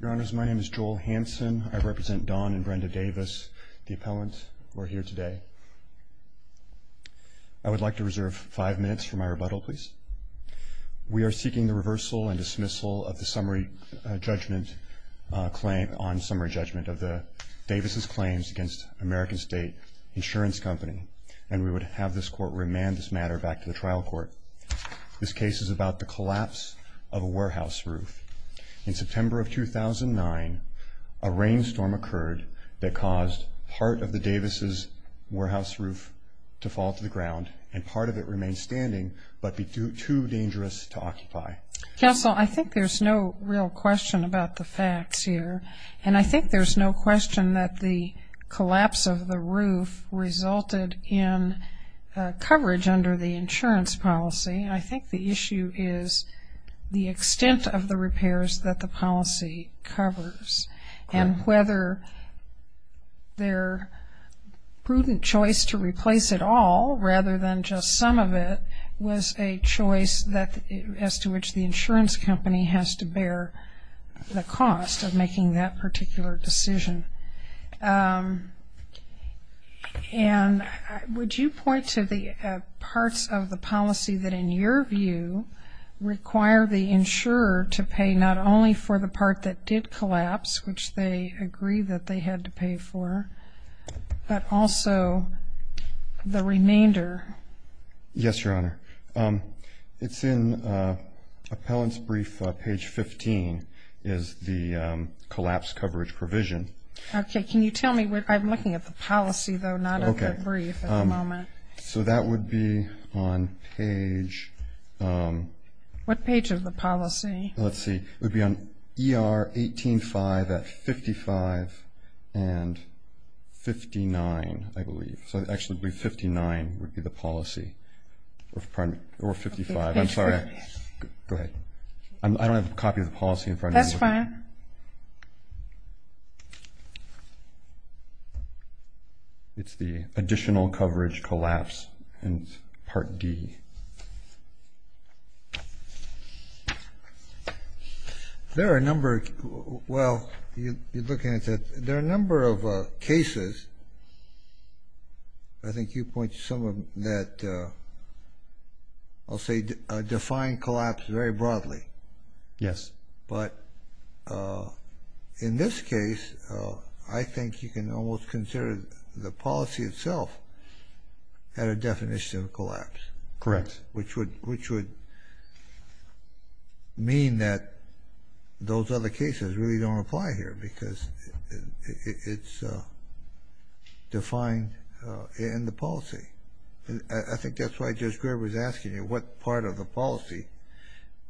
Your Honor, my name is Joel Hansen. I represent Don and Brenda Davis, the appellant. We're here today. I would like to reserve five minutes for my rebuttal, please. We are seeking the reversal and dismissal of the summary judgment claim on summary judgment of the Davis's claims against American State Insurance Company. And we would have this court remand this matter back to the trial court. This case is about the collapse of a warehouse roof. In September of 2009, a rainstorm occurred that caused part of the Davis's warehouse roof to fall to the ground, and part of it remained standing, but too dangerous to occupy. Counsel, I think there's no real question about the facts here, and I think there's no question that the collapse of the roof resulted in coverage under the insurance policy. I think the issue is the extent of the repairs that the policy covers, and whether their prudent choice to replace it all rather than just some of it was a choice as to which the insurance company has to bear the cost of making that particular decision. And would you point to the parts of the policy that, in your view, require the insurer to pay not only for the part that did collapse, which they agreed that they had to pay for, but also the remainder? Yes, Your Honor. It's in appellant's brief, page 15, is the collapse coverage provision. Okay, can you tell me, I'm looking at the policy though, not at the brief at the moment. So that would be on page... What page of the policy? Let's see. It would be on ER 18-5 at 55 and 59, I believe. So I actually believe 59 would be the policy, or 55. I'm sorry. Go ahead. I don't have a copy of the policy in front of me. That's fine. Your Honor. It's the additional coverage collapse in part D. There are a number of, well, you're looking at, there are a number of cases, I think you pointed to some of them, that I'll say define collapse very broadly. Yes. But in this case, I think you can almost consider the policy itself at a definition of collapse. Correct. Which would mean that those other cases really don't apply here, because it's defined in the policy. I think that's why Judge Graber was asking you what part of the policy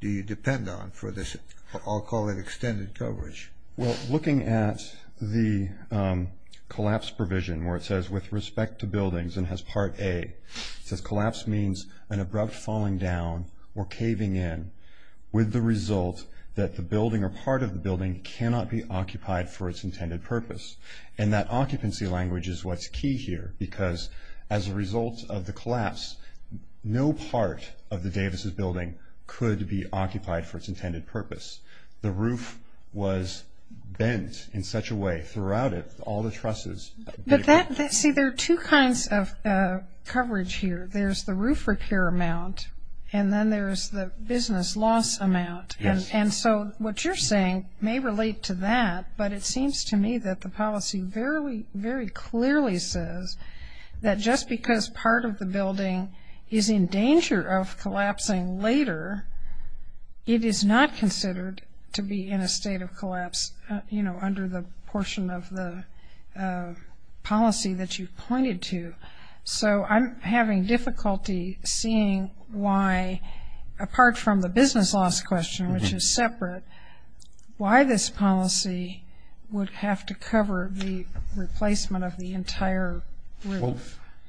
do you depend on for this, I'll call it extended coverage. Well, looking at the collapse provision where it says with respect to buildings and has part A. It says collapse means an abrupt falling down or caving in with the result that the building or part of the building cannot be occupied for its intended purpose. And that occupancy language is what's key here, because as a result of the collapse, no part of the Davis' building could be occupied for its intended purpose. The roof was bent in such a way throughout it, all the trusses. See, there are two kinds of coverage here. There's the roof repair amount, and then there's the business loss amount. And so what you're saying may relate to that, but it seems to me that the policy very, very clearly says that just because part of the building is in danger of collapsing later, it is not considered to be in a state of collapse, you know, under the portion of the policy that you pointed to. So I'm having difficulty seeing why, apart from the business loss question, which is separate, why this policy would have to cover the replacement of the entire roof. Well,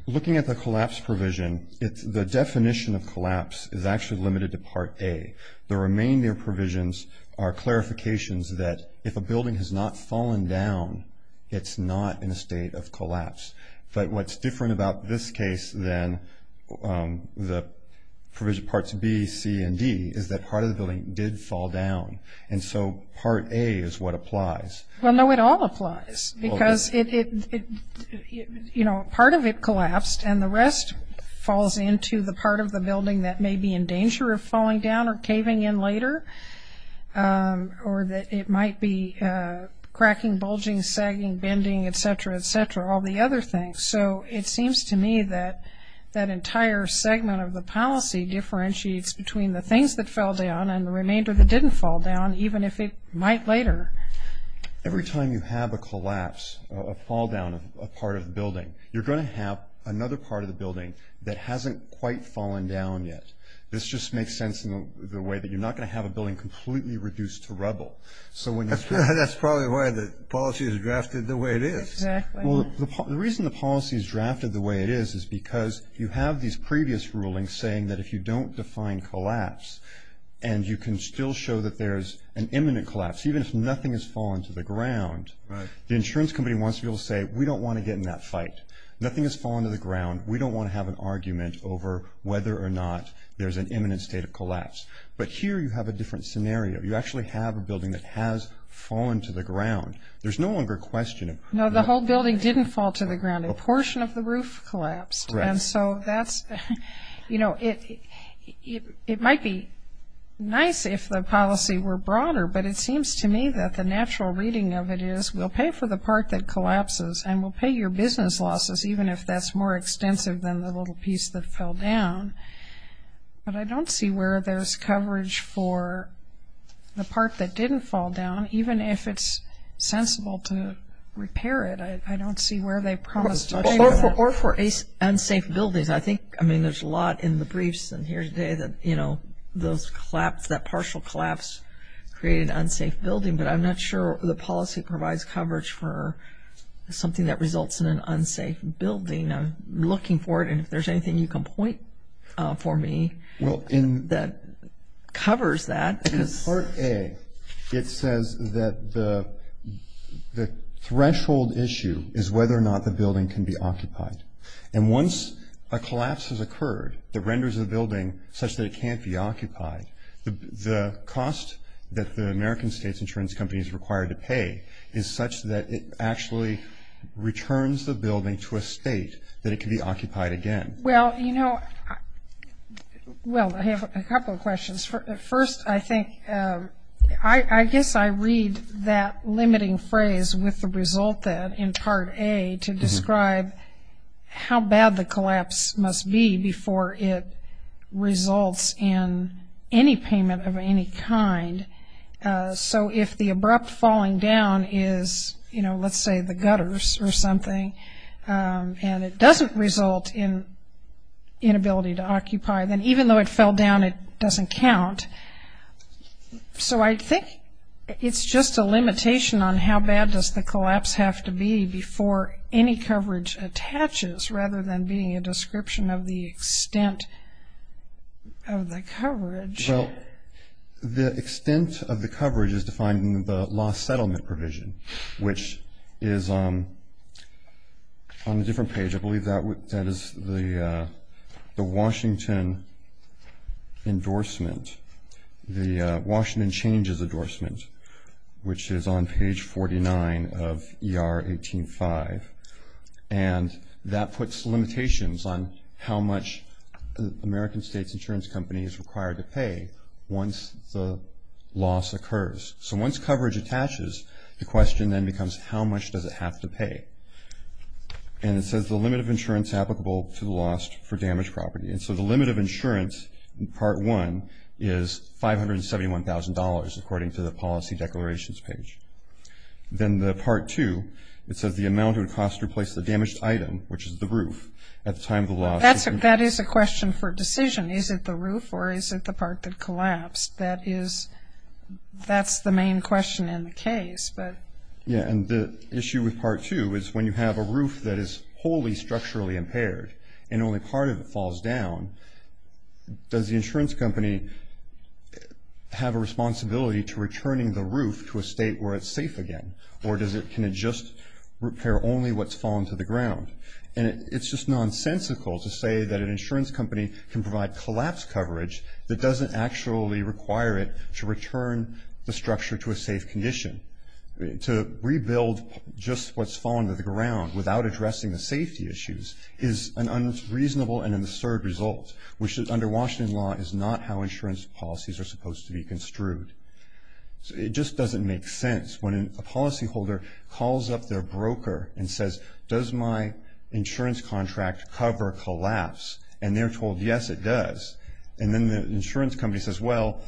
looking at the collapse provision, the definition of collapse is actually limited to part A. The remainder provisions are clarifications that if a building has not fallen down, it's not in a state of collapse. But what's different about this case than the provision parts B, C, and D is that part of the building did fall down, and so part A is what applies. Well, no, it all applies because, you know, part of it collapsed, and the rest falls into the part of the building that may be in danger of falling down or caving in later, or that it might be cracking, bulging, sagging, bending, et cetera, et cetera, all the other things. So it seems to me that that entire segment of the policy differentiates between the things that fell down and the remainder that didn't fall down, even if it might later. Every time you have a collapse, a fall down of a part of the building, you're going to have another part of the building that hasn't quite fallen down yet. This just makes sense in the way that you're not going to have a building completely reduced to rubble. That's probably why the policy is drafted the way it is. Exactly. Well, the reason the policy is drafted the way it is is because you have these previous rulings saying that if you don't define collapse and you can still show that there's an imminent collapse, even if nothing has fallen to the ground, the insurance company wants to be able to say, we don't want to get in that fight. Nothing has fallen to the ground. We don't want to have an argument over whether or not there's an imminent state of collapse. But here you have a different scenario. You actually have a building that has fallen to the ground. There's no longer a question of who fell. No, the whole building didn't fall to the ground. A portion of the roof collapsed. Right. And so that's, you know, it might be nice if the policy were broader, but it seems to me that the natural reading of it is we'll pay for the part that collapses and we'll pay your business losses even if that's more extensive than the little piece that fell down. But I don't see where there's coverage for the part that didn't fall down, even if it's sensible to repair it. I don't see where they promised to pay for that. Or for unsafe buildings. I think, I mean, there's a lot in the briefs in here today that, you know, that partial collapse created an unsafe building, but I'm not sure the policy provides coverage for something that results in an unsafe building. I'm looking for it, and if there's anything you can point for me that covers that. Part A, it says that the threshold issue is whether or not the building can be occupied. And once a collapse has occurred that renders a building such that it can't be occupied, the cost that the American state's insurance company is required to pay is such that it actually returns the building to a state that it can be occupied again. Well, you know, well, I have a couple of questions. First, I think, I guess I read that limiting phrase with the result in Part A to describe how bad the collapse must be before it results in any payment of any kind. So if the abrupt falling down is, you know, let's say the gutters or something, and it doesn't result in inability to occupy, then even though it fell down, it doesn't count. So I think it's just a limitation on how bad does the collapse have to be before any coverage attaches, rather than being a description of the extent of the coverage. Well, the extent of the coverage is defined in the lost settlement provision, which is on a different page. I believe that is the Washington endorsement, the Washington changes endorsement, which is on page 49 of ER 18.5. And that puts limitations on how much the American state's insurance company is required to pay once the loss occurs. So once coverage attaches, the question then becomes how much does it have to pay? And it says the limit of insurance applicable to the lost for damaged property. And so the limit of insurance in Part 1 is $571,000, according to the policy declarations page. Then the Part 2, it says the amount of cost to replace the damaged item, which is the roof, at the time of the loss. That is a question for decision. Is it the roof or is it the part that collapsed? That is, that's the main question in the case. Yeah, and the issue with Part 2 is when you have a roof that is wholly structurally impaired and only part of it falls down, does the insurance company have a responsibility to returning the roof to a state where it's safe again? Or can it just repair only what's fallen to the ground? And it's just nonsensical to say that an insurance company can provide collapse coverage that doesn't actually require it to return the structure to a safe condition. To rebuild just what's fallen to the ground without addressing the safety issues is an unreasonable and an absurd result, which under Washington law is not how insurance policies are supposed to be construed. It just doesn't make sense when a policyholder calls up their broker and says, does my insurance contract cover collapse? And they're told, yes, it does. And then the insurance company says, well.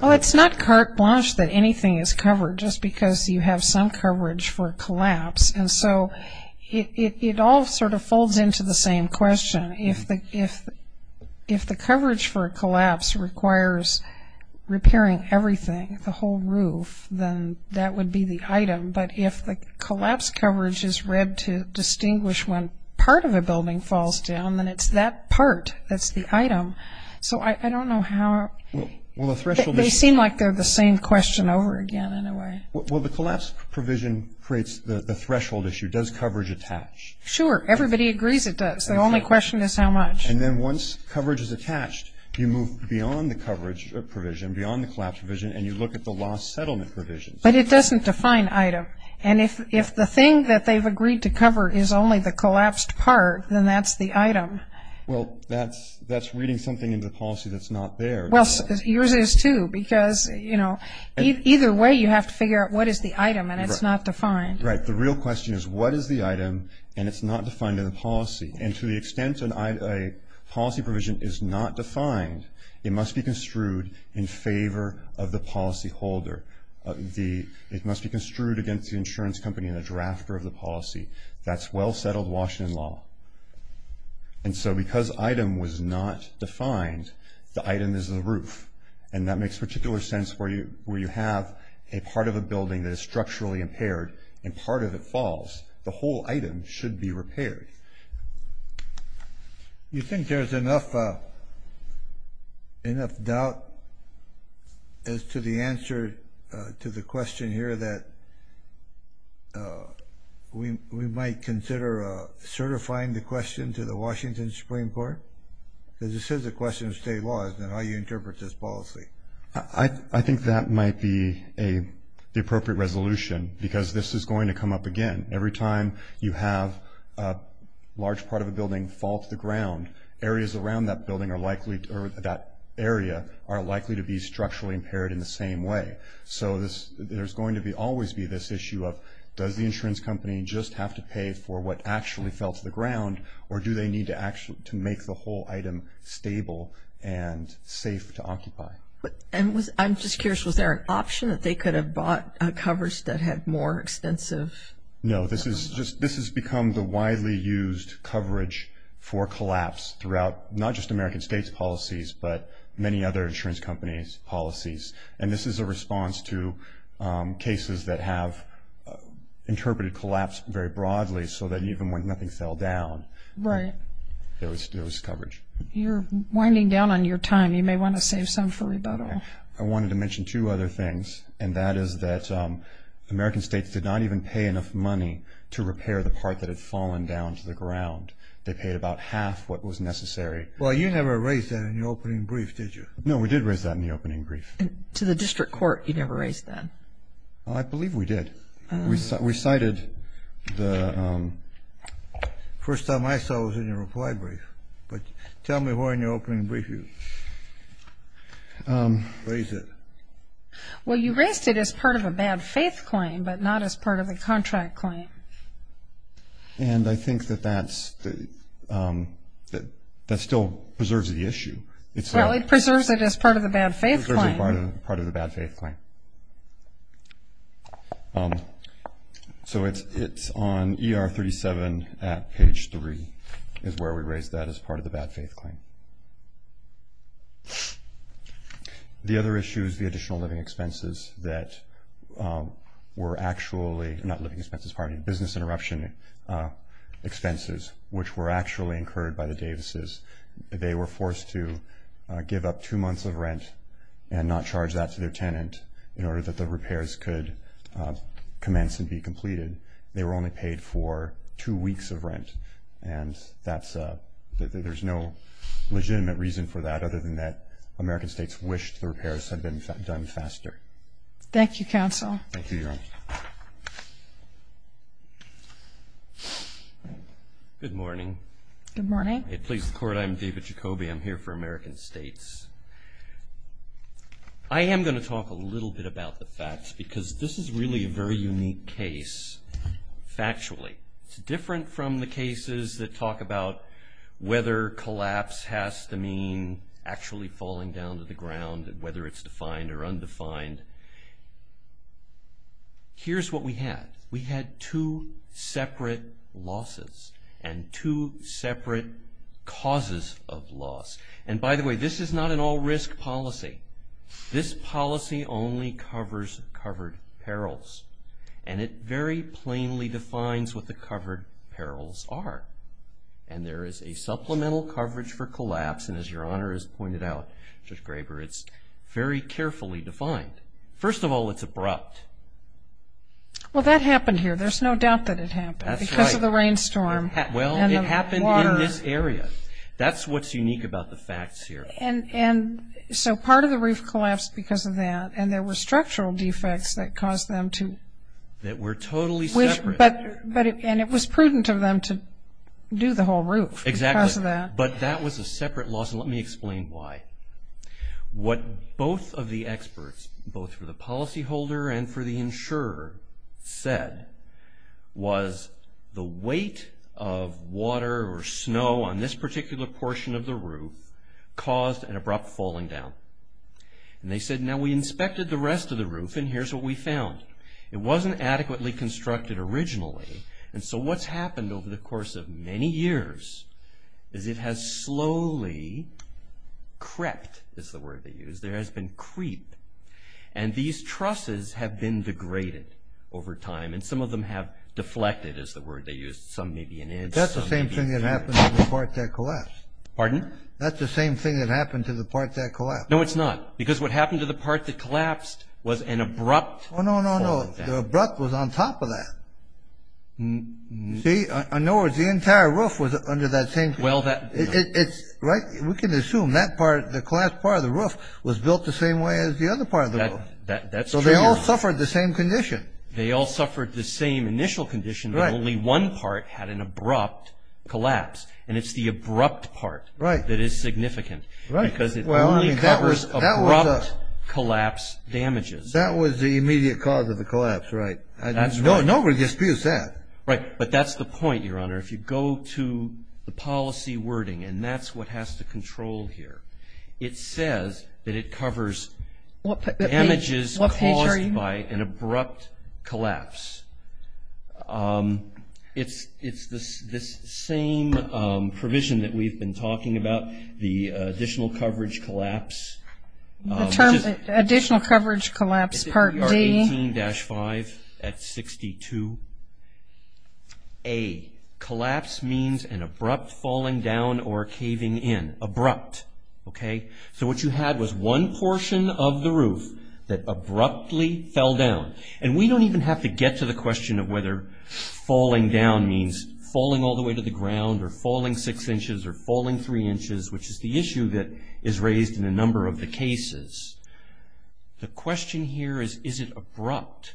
Well, it's not carte blanche that anything is covered, just because you have some coverage for a collapse. And so it all sort of folds into the same question. If the coverage for a collapse requires repairing everything, the whole roof, then that would be the item. But if the collapse coverage is read to distinguish when part of a building falls down, then it's that part that's the item. So I don't know how they seem like they're the same question over again in a way. Well, the collapse provision creates the threshold issue. Does coverage attach? Sure. Everybody agrees it does. The only question is how much. And then once coverage is attached, you move beyond the coverage provision, beyond the collapse provision, and you look at the lost settlement provision. But it doesn't define item. And if the thing that they've agreed to cover is only the collapsed part, then that's the item. Well, that's reading something into the policy that's not there. Well, yours is, too, because, you know, either way you have to figure out what is the item, and it's not defined. Right. The real question is what is the item, and it's not defined in the policy. And to the extent a policy provision is not defined, it must be construed in favor of the policyholder. It must be construed against the insurance company and the drafter of the policy. That's well-settled Washington law. And so because item was not defined, the item is the roof. And that makes particular sense where you have a part of a building that is structurally impaired, and part of it falls. The whole item should be repaired. You think there's enough doubt as to the answer to the question here that we might consider certifying the question to the Washington Supreme Court? Because this is a question of state law, isn't it, how you interpret this policy? I think that might be the appropriate resolution, because this is going to come up again. Every time you have a large part of a building fall to the ground, areas around that area are likely to be structurally impaired in the same way. So there's going to always be this issue of, does the insurance company just have to pay for what actually fell to the ground, or do they need to make the whole item stable and safe to occupy? I'm just curious, was there an option that they could have bought covers that had more extensive? No. This has become the widely used coverage for collapse throughout not just American states' policies, but many other insurance companies' policies. And this is a response to cases that have interpreted collapse very broadly, so that even when nothing fell down, there was coverage. You're winding down on your time. You may want to save some for rebuttal. I wanted to mention two other things, and that is that American states did not even pay enough money to repair the part that had fallen down to the ground. They paid about half what was necessary. Well, you never raised that in your opening brief, did you? No, we did raise that in the opening brief. To the district court, you never raised that? I believe we did. We cited the... First time I saw it was in your reply brief. Tell me where in your opening brief you raised it. Well, you raised it as part of a bad faith claim, but not as part of the contract claim. And I think that that still preserves the issue. Well, it preserves it as part of the bad faith claim. It preserves it as part of the bad faith claim. Okay. So it's on ER 37 at page 3 is where we raised that as part of the bad faith claim. The other issue is the additional living expenses that were actually not living expenses, pardon me, business interruption expenses, which were actually incurred by the Davises. They were forced to give up two months of rent and not charge that to their tenant in order that the repairs could commence and be completed. They were only paid for two weeks of rent, and there's no legitimate reason for that other than that American states wished the repairs had been done faster. Thank you, counsel. Thank you, Your Honor. Good morning. Good morning. Please record I'm David Jacoby. I'm here for American states. I am going to talk a little bit about the facts because this is really a very unique case factually. It's different from the cases that talk about whether collapse has to mean actually falling down to the ground and whether it's defined or undefined. Here's what we had. We had two separate losses and two separate causes of loss. And by the way, this is not an all-risk policy. This policy only covers covered perils, and it very plainly defines what the covered perils are. And there is a supplemental coverage for collapse, and as Your Honor has pointed out, Judge Graber, it's very carefully defined. First of all, it's abrupt. Well, that happened here. There's no doubt that it happened. That's right. Because of the rainstorm. Well, it happened in this area. That's what's unique about the facts here. And so part of the roof collapsed because of that, and there were structural defects that caused them to… That were totally separate. And it was prudent of them to do the whole roof because of that. Exactly. But that was a separate loss, and let me explain why. What both of the experts, both for the policyholder and for the insurer, said, was the weight of water or snow on this particular portion of the roof caused an abrupt falling down. And they said, now we inspected the rest of the roof, and here's what we found. It wasn't adequately constructed originally, and so what's happened over the course of many years is it has slowly crept, is the word they use. There has been creep, and these trusses have been degraded over time, and some of them have deflected, is the word they use. Some may be an inch. That's the same thing that happened to the part that collapsed. Pardon? That's the same thing that happened to the part that collapsed. No, it's not. Because what happened to the part that collapsed was an abrupt… Oh, no, no, no. The abrupt was on top of that. See? In other words, the entire roof was under that same… Well, that… Right? We can assume that part, the collapsed part of the roof, was built the same way as the other part of the roof. That's true. So they all suffered the same condition. They all suffered the same initial condition, but only one part had an abrupt collapse, and it's the abrupt part that is significant because it only covers abrupt collapse damages. That was the immediate cause of the collapse, right? That's right. Nobody disputes that. Right. But that's the point, Your Honor. If you go to the policy wording, and that's what has to control here, it says that it covers damages caused by an abrupt collapse. It's this same provision that we've been talking about, the additional coverage collapse. Additional coverage collapse, Part D. 18-5 at 62. A, collapse means an abrupt falling down or caving in. Abrupt. Okay? So what you had was one portion of the roof that abruptly fell down. And we don't even have to get to the question of whether falling down means falling all the way to the ground or falling six inches or falling three inches, which is the issue that is raised in a number of the cases. The question here is, is it abrupt?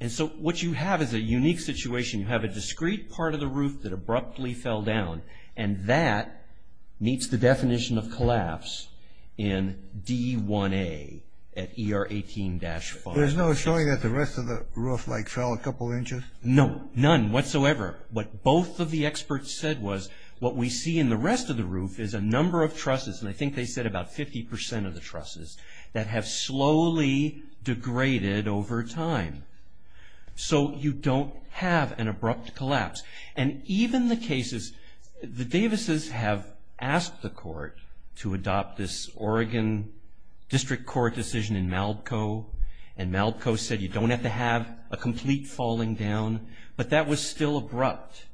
And so what you have is a unique situation. You have a discrete part of the roof that abruptly fell down, and that meets the definition of collapse in D1A at ER 18-5. There's no showing that the rest of the roof, like, fell a couple inches? No, none whatsoever. What both of the experts said was what we see in the rest of the roof is a number of trusses, and I think they said about 50% of the trusses, that have slowly degraded over time. So you don't have an abrupt collapse. And even the cases, the Davises have asked the court to adopt this Oregon District Court decision in Malco, and Malco said you don't have to have a complete falling down, but that was still abrupt.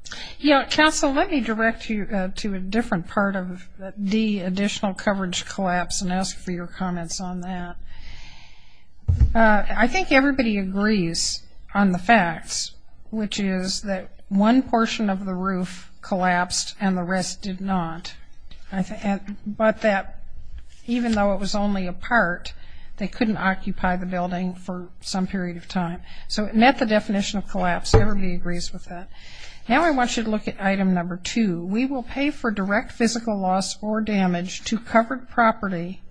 Council, let me direct you to a different part of D, additional coverage collapse, and ask for your comments on that. I think everybody agrees on the facts, which is that one portion of the roof collapsed and the rest did not, but that even though it was only a part, they couldn't occupy the building for some period of time. So it met the definition of collapse. Everybody agrees with that. Now I want you to look at item number two. We will pay for direct physical loss or damage to covered property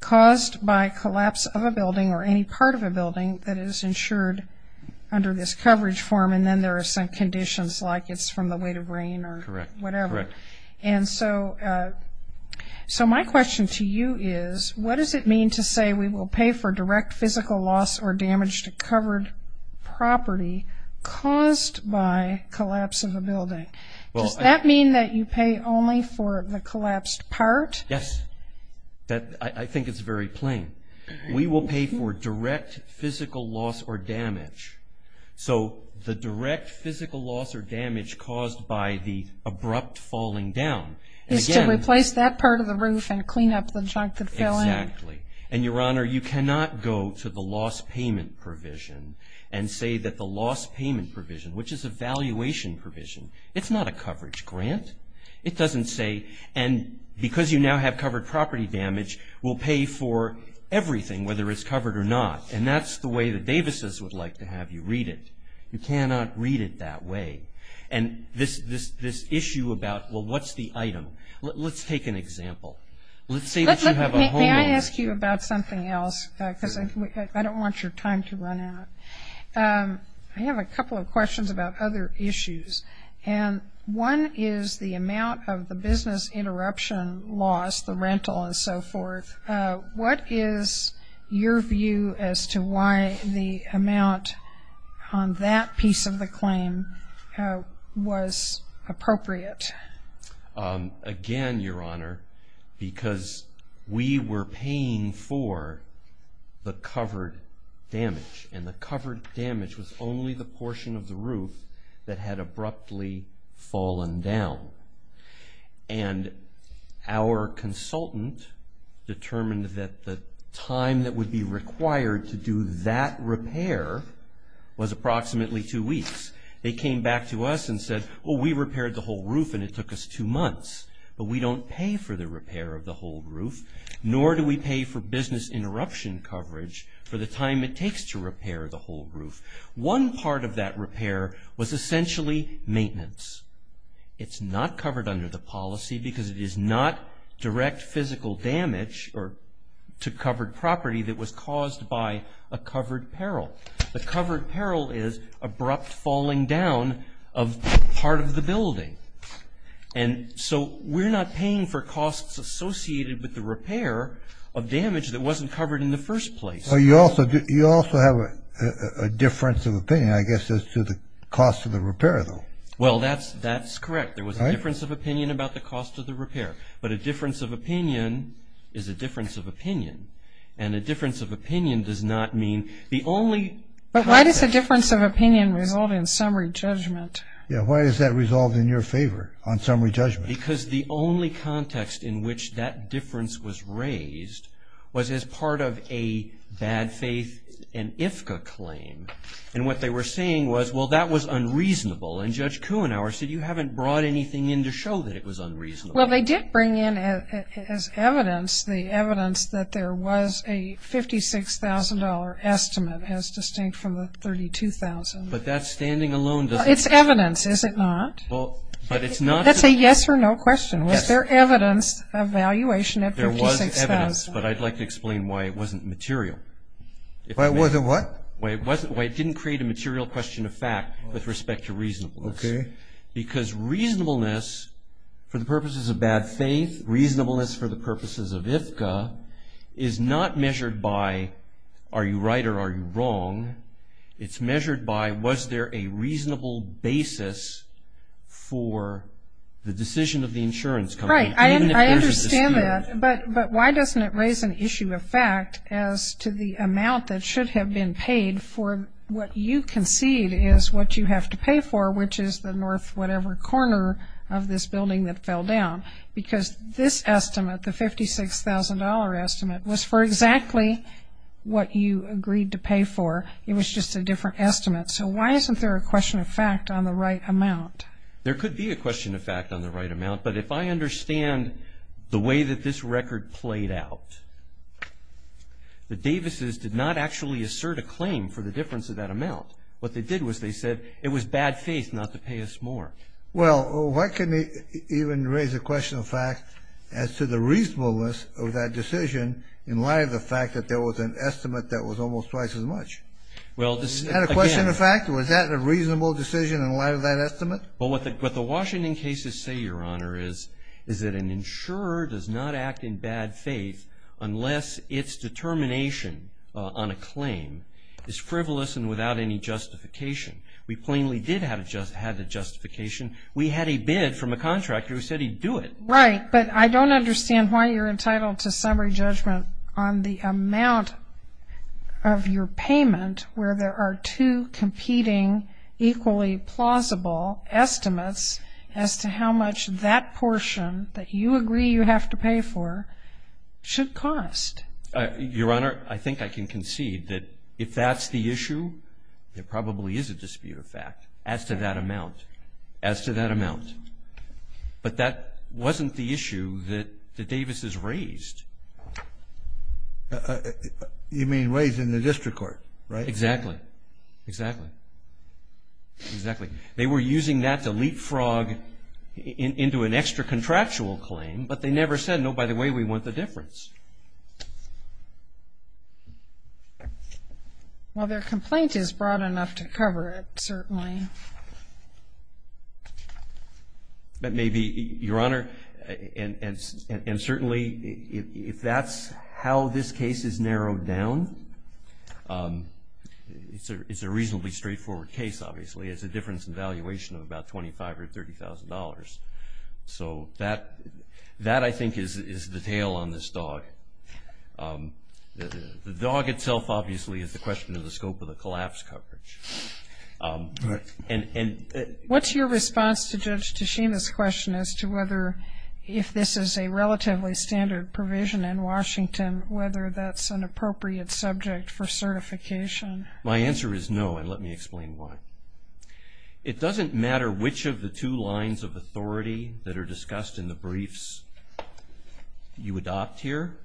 caused by collapse of a building or any part of a building that is insured under this coverage form, and then there are some conditions like it's from the weight of rain or whatever. Correct. And so my question to you is what does it mean to say we will pay for direct physical loss or damage to covered property caused by collapse of a building? Does that mean that you pay only for the collapsed part? Yes. I think it's very plain. We will pay for direct physical loss or damage. So the direct physical loss or damage caused by the abrupt falling down. Is to replace that part of the roof and clean up the junk that fell in. Exactly. And, Your Honor, you cannot go to the loss payment provision and say that the loss payment provision, which is a valuation provision, it's not a coverage grant. It doesn't say, and because you now have covered property damage, we'll pay for everything whether it's covered or not. And that's the way the Davises would like to have you read it. You cannot read it that way. And this issue about, well, what's the item? Let's take an example. Let's say that you have a homeowner. May I ask you about something else? Because I don't want your time to run out. I have a couple of questions about other issues. And one is the amount of the business interruption loss, the rental and so forth. What is your view as to why the amount on that piece of the claim was appropriate? Again, Your Honor, because we were paying for the covered damage, and the covered damage was only the portion of the roof that had abruptly fallen down. And our consultant determined that the time that would be required to do that repair was approximately two weeks. They came back to us and said, well, we repaired the whole roof and it took us two months. But we don't pay for the repair of the whole roof, nor do we pay for business interruption coverage for the time it takes to repair the whole roof. One part of that repair was essentially maintenance. It's not covered under the policy because it is not direct physical damage to covered property that was caused by a covered peril. The covered peril is abrupt falling down of part of the building. And so we're not paying for costs associated with the repair of damage that wasn't covered in the first place. Well, you also have a difference of opinion, I guess, as to the cost of the repair, though. Well, that's correct. There was a difference of opinion about the cost of the repair. But a difference of opinion is a difference of opinion. And a difference of opinion does not mean the only... But why does a difference of opinion result in summary judgment? Yeah, why does that result in your favor on summary judgment? Because the only context in which that difference was raised was as part of a bad faith and IFCA claim. And what they were saying was, well, that was unreasonable. And Judge Kuenhauer said, you haven't brought anything in to show that it was unreasonable. Well, they did bring in as evidence the evidence that there was a $56,000 estimate as distinct from the $32,000. But that standing alone doesn't... It's evidence, is it not? That's a yes or no question. Was there evidence of valuation at $56,000? There was evidence, but I'd like to explain why it wasn't material. Why it wasn't what? Why it didn't create a material question of fact with respect to reasonableness. Okay. Because reasonableness for the purposes of bad faith, reasonableness for the purposes of IFCA, is not measured by are you right or are you wrong? It's measured by was there a reasonable basis for the decision of the insurance company? Right. I understand that. But why doesn't it raise an issue of fact as to the amount that should have been paid for what you concede is what you have to pay for, which is the north whatever corner of this building that fell down? Because this estimate, the $56,000 estimate, was for exactly what you agreed to pay for. It was just a different estimate. So why isn't there a question of fact on the right amount? There could be a question of fact on the right amount. But if I understand the way that this record played out, the Davises did not actually assert a claim for the difference of that amount. What they did was they said it was bad faith not to pay us more. Well, why couldn't it even raise a question of fact as to the reasonableness of that decision in light of the fact that there was an estimate that was almost twice as much? Was that a question of fact? Was that a reasonable decision in light of that estimate? Well, what the Washington cases say, Your Honor, is that an insurer does not act in bad faith unless its determination on a claim is frivolous and without any justification. We plainly did have a justification. We had a bid from a contractor who said he'd do it. Right, but I don't understand why you're entitled to summary judgment on the amount of your payment where there are two competing equally plausible estimates as to how much that portion that you agree you have to pay for should cost. Your Honor, I think I can concede that if that's the issue, there probably is a dispute of fact as to that amount, as to that amount. But that wasn't the issue that the Davises raised. You mean raised in the district court, right? Exactly, exactly, exactly. They were using that to leapfrog into an extra contractual claim, but they never said, no, by the way, we want the difference. Well, their complaint is broad enough to cover it, certainly. That may be, Your Honor, and certainly if that's how this case is narrowed down, it's a reasonably straightforward case, obviously. It's a difference in valuation of about $25,000 or $30,000. So that, I think, is the tail on this dog. The dog itself, obviously, is the question of the scope of the collapse coverage. What's your response to Judge Tichina's question as to whether, if this is a relatively standard provision in Washington, whether that's an appropriate subject for certification? My answer is no, and let me explain why. It doesn't matter which of the two lines of authority that are discussed in the briefs you adopt here.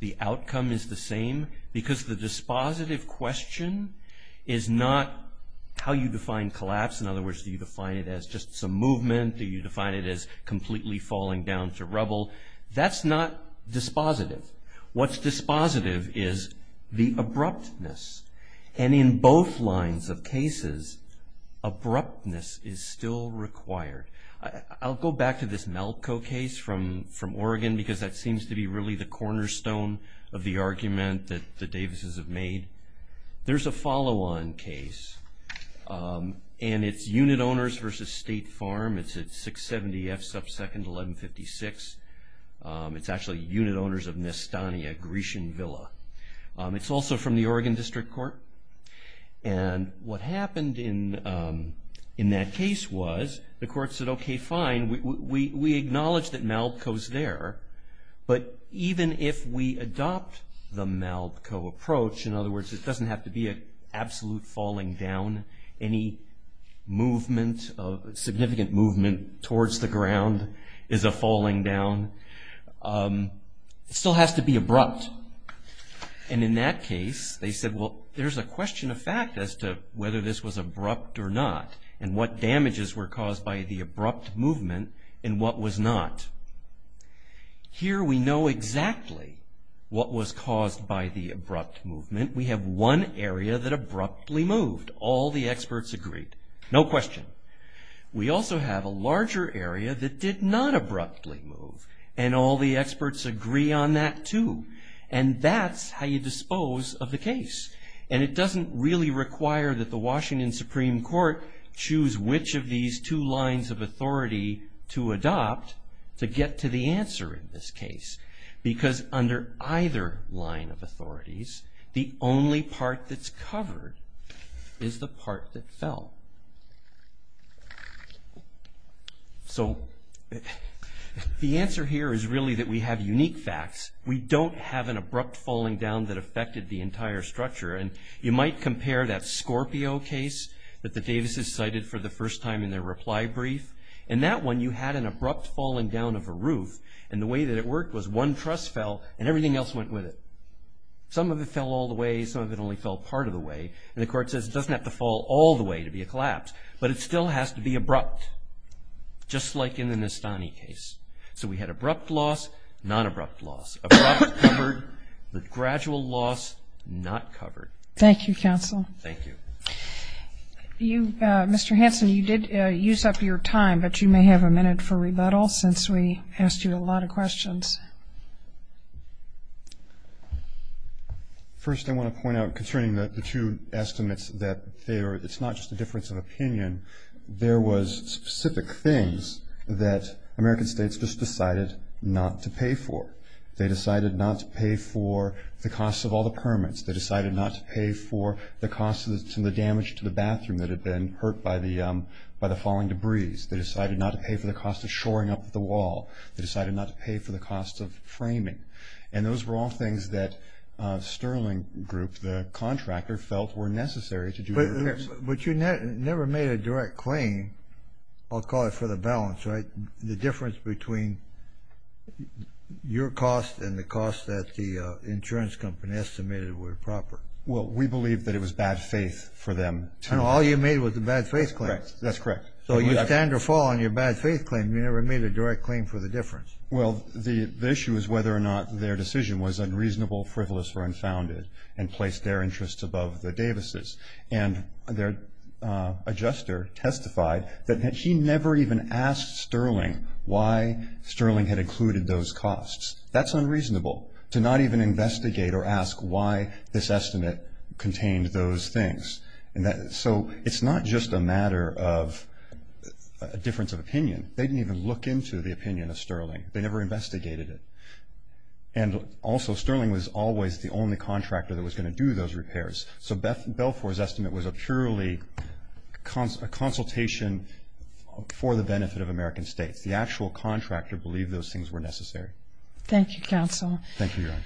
The outcome is the same because the dispositive question is not how you define collapse. In other words, do you define it as just some movement? Do you define it as completely falling down to rubble? That's not dispositive. What's dispositive is the abruptness. And in both lines of cases, abruptness is still required. I'll go back to this Malko case from Oregon because that seems to be really the cornerstone of the argument that the Davises have made. There's a follow-on case, and it's unit owners versus State Farm. It's at 670F sub second 1156. It's actually unit owners of Nestania Grecian Villa. It's also from the Oregon District Court. And what happened in that case was the court said, okay, fine, we acknowledge that Malko's there, but even if we adopt the Malko approach, in other words, it doesn't have to be an absolute falling down. Any movement, significant movement towards the ground is a falling down. It still has to be abrupt. And in that case, they said, well, there's a question of fact as to whether this was abrupt or not and what damages were caused by the abrupt movement and what was not. Here we know exactly what was caused by the abrupt movement. We have one area that abruptly moved. All the experts agreed. No question. We also have a larger area that did not abruptly move, and all the experts agree on that, too. And that's how you dispose of the case. And it doesn't really require that the Washington Supreme Court choose which of these two lines of authority to adopt to get to the answer in this case because under either line of authorities, the only part that's covered is the part that fell. So the answer here is really that we have unique facts. We don't have an abrupt falling down that affected the entire structure, and you might compare that Scorpio case that the Davises cited for the first time in their reply brief. In that one, you had an abrupt falling down of a roof, and the way that it worked was one truss fell and everything else went with it. Some of it fell all the way. Some of it only fell part of the way. And the court says it doesn't have to fall all the way to be a collapse, but it still has to be abrupt, just like in the Nestani case. So we had abrupt loss, non-abrupt loss, abrupt covered, but gradual loss not covered. Thank you, counsel. Thank you. Mr. Hanson, you did use up your time, but you may have a minute for rebuttal since we asked you a lot of questions. First, I want to point out concerning the two estimates that it's not just a difference of opinion. There was specific things that American states just decided not to pay for. They decided not to pay for the cost of all the permits. They decided not to pay for the cost of the damage to the bathroom that had been hurt by the falling debris. They decided not to pay for the cost of shoring up the wall. They decided not to pay for the cost of framing. And those were all things that Sterling Group, the contractor, felt were necessary to do repairs. But you never made a direct claim, I'll call it, for the balance, right, the difference between your cost and the cost that the insurance company estimated were proper. Well, we believe that it was bad faith for them to – And all you made was a bad faith claim. That's correct. So you stand or fall on your bad faith claim. You never made a direct claim for the difference. Well, the issue is whether or not their decision was unreasonable, frivolous, or unfounded and placed their interests above the Davis's. And their adjuster testified that he never even asked Sterling why Sterling had included those costs. That's unreasonable, to not even investigate or ask why this estimate contained those things. So it's not just a matter of a difference of opinion. They didn't even look into the opinion of Sterling. They never investigated it. And also Sterling was always the only contractor that was going to do those repairs. So Belfour's estimate was a purely consultation for the benefit of American states. The actual contractor believed those things were necessary. Thank you, counsel. Thank you, Your Honor.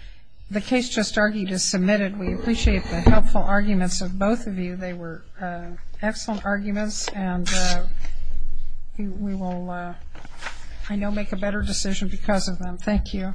The case just argued is submitted. We appreciate the helpful arguments of both of you. They were excellent arguments, and we will, I know, make a better decision because of them. Thank you.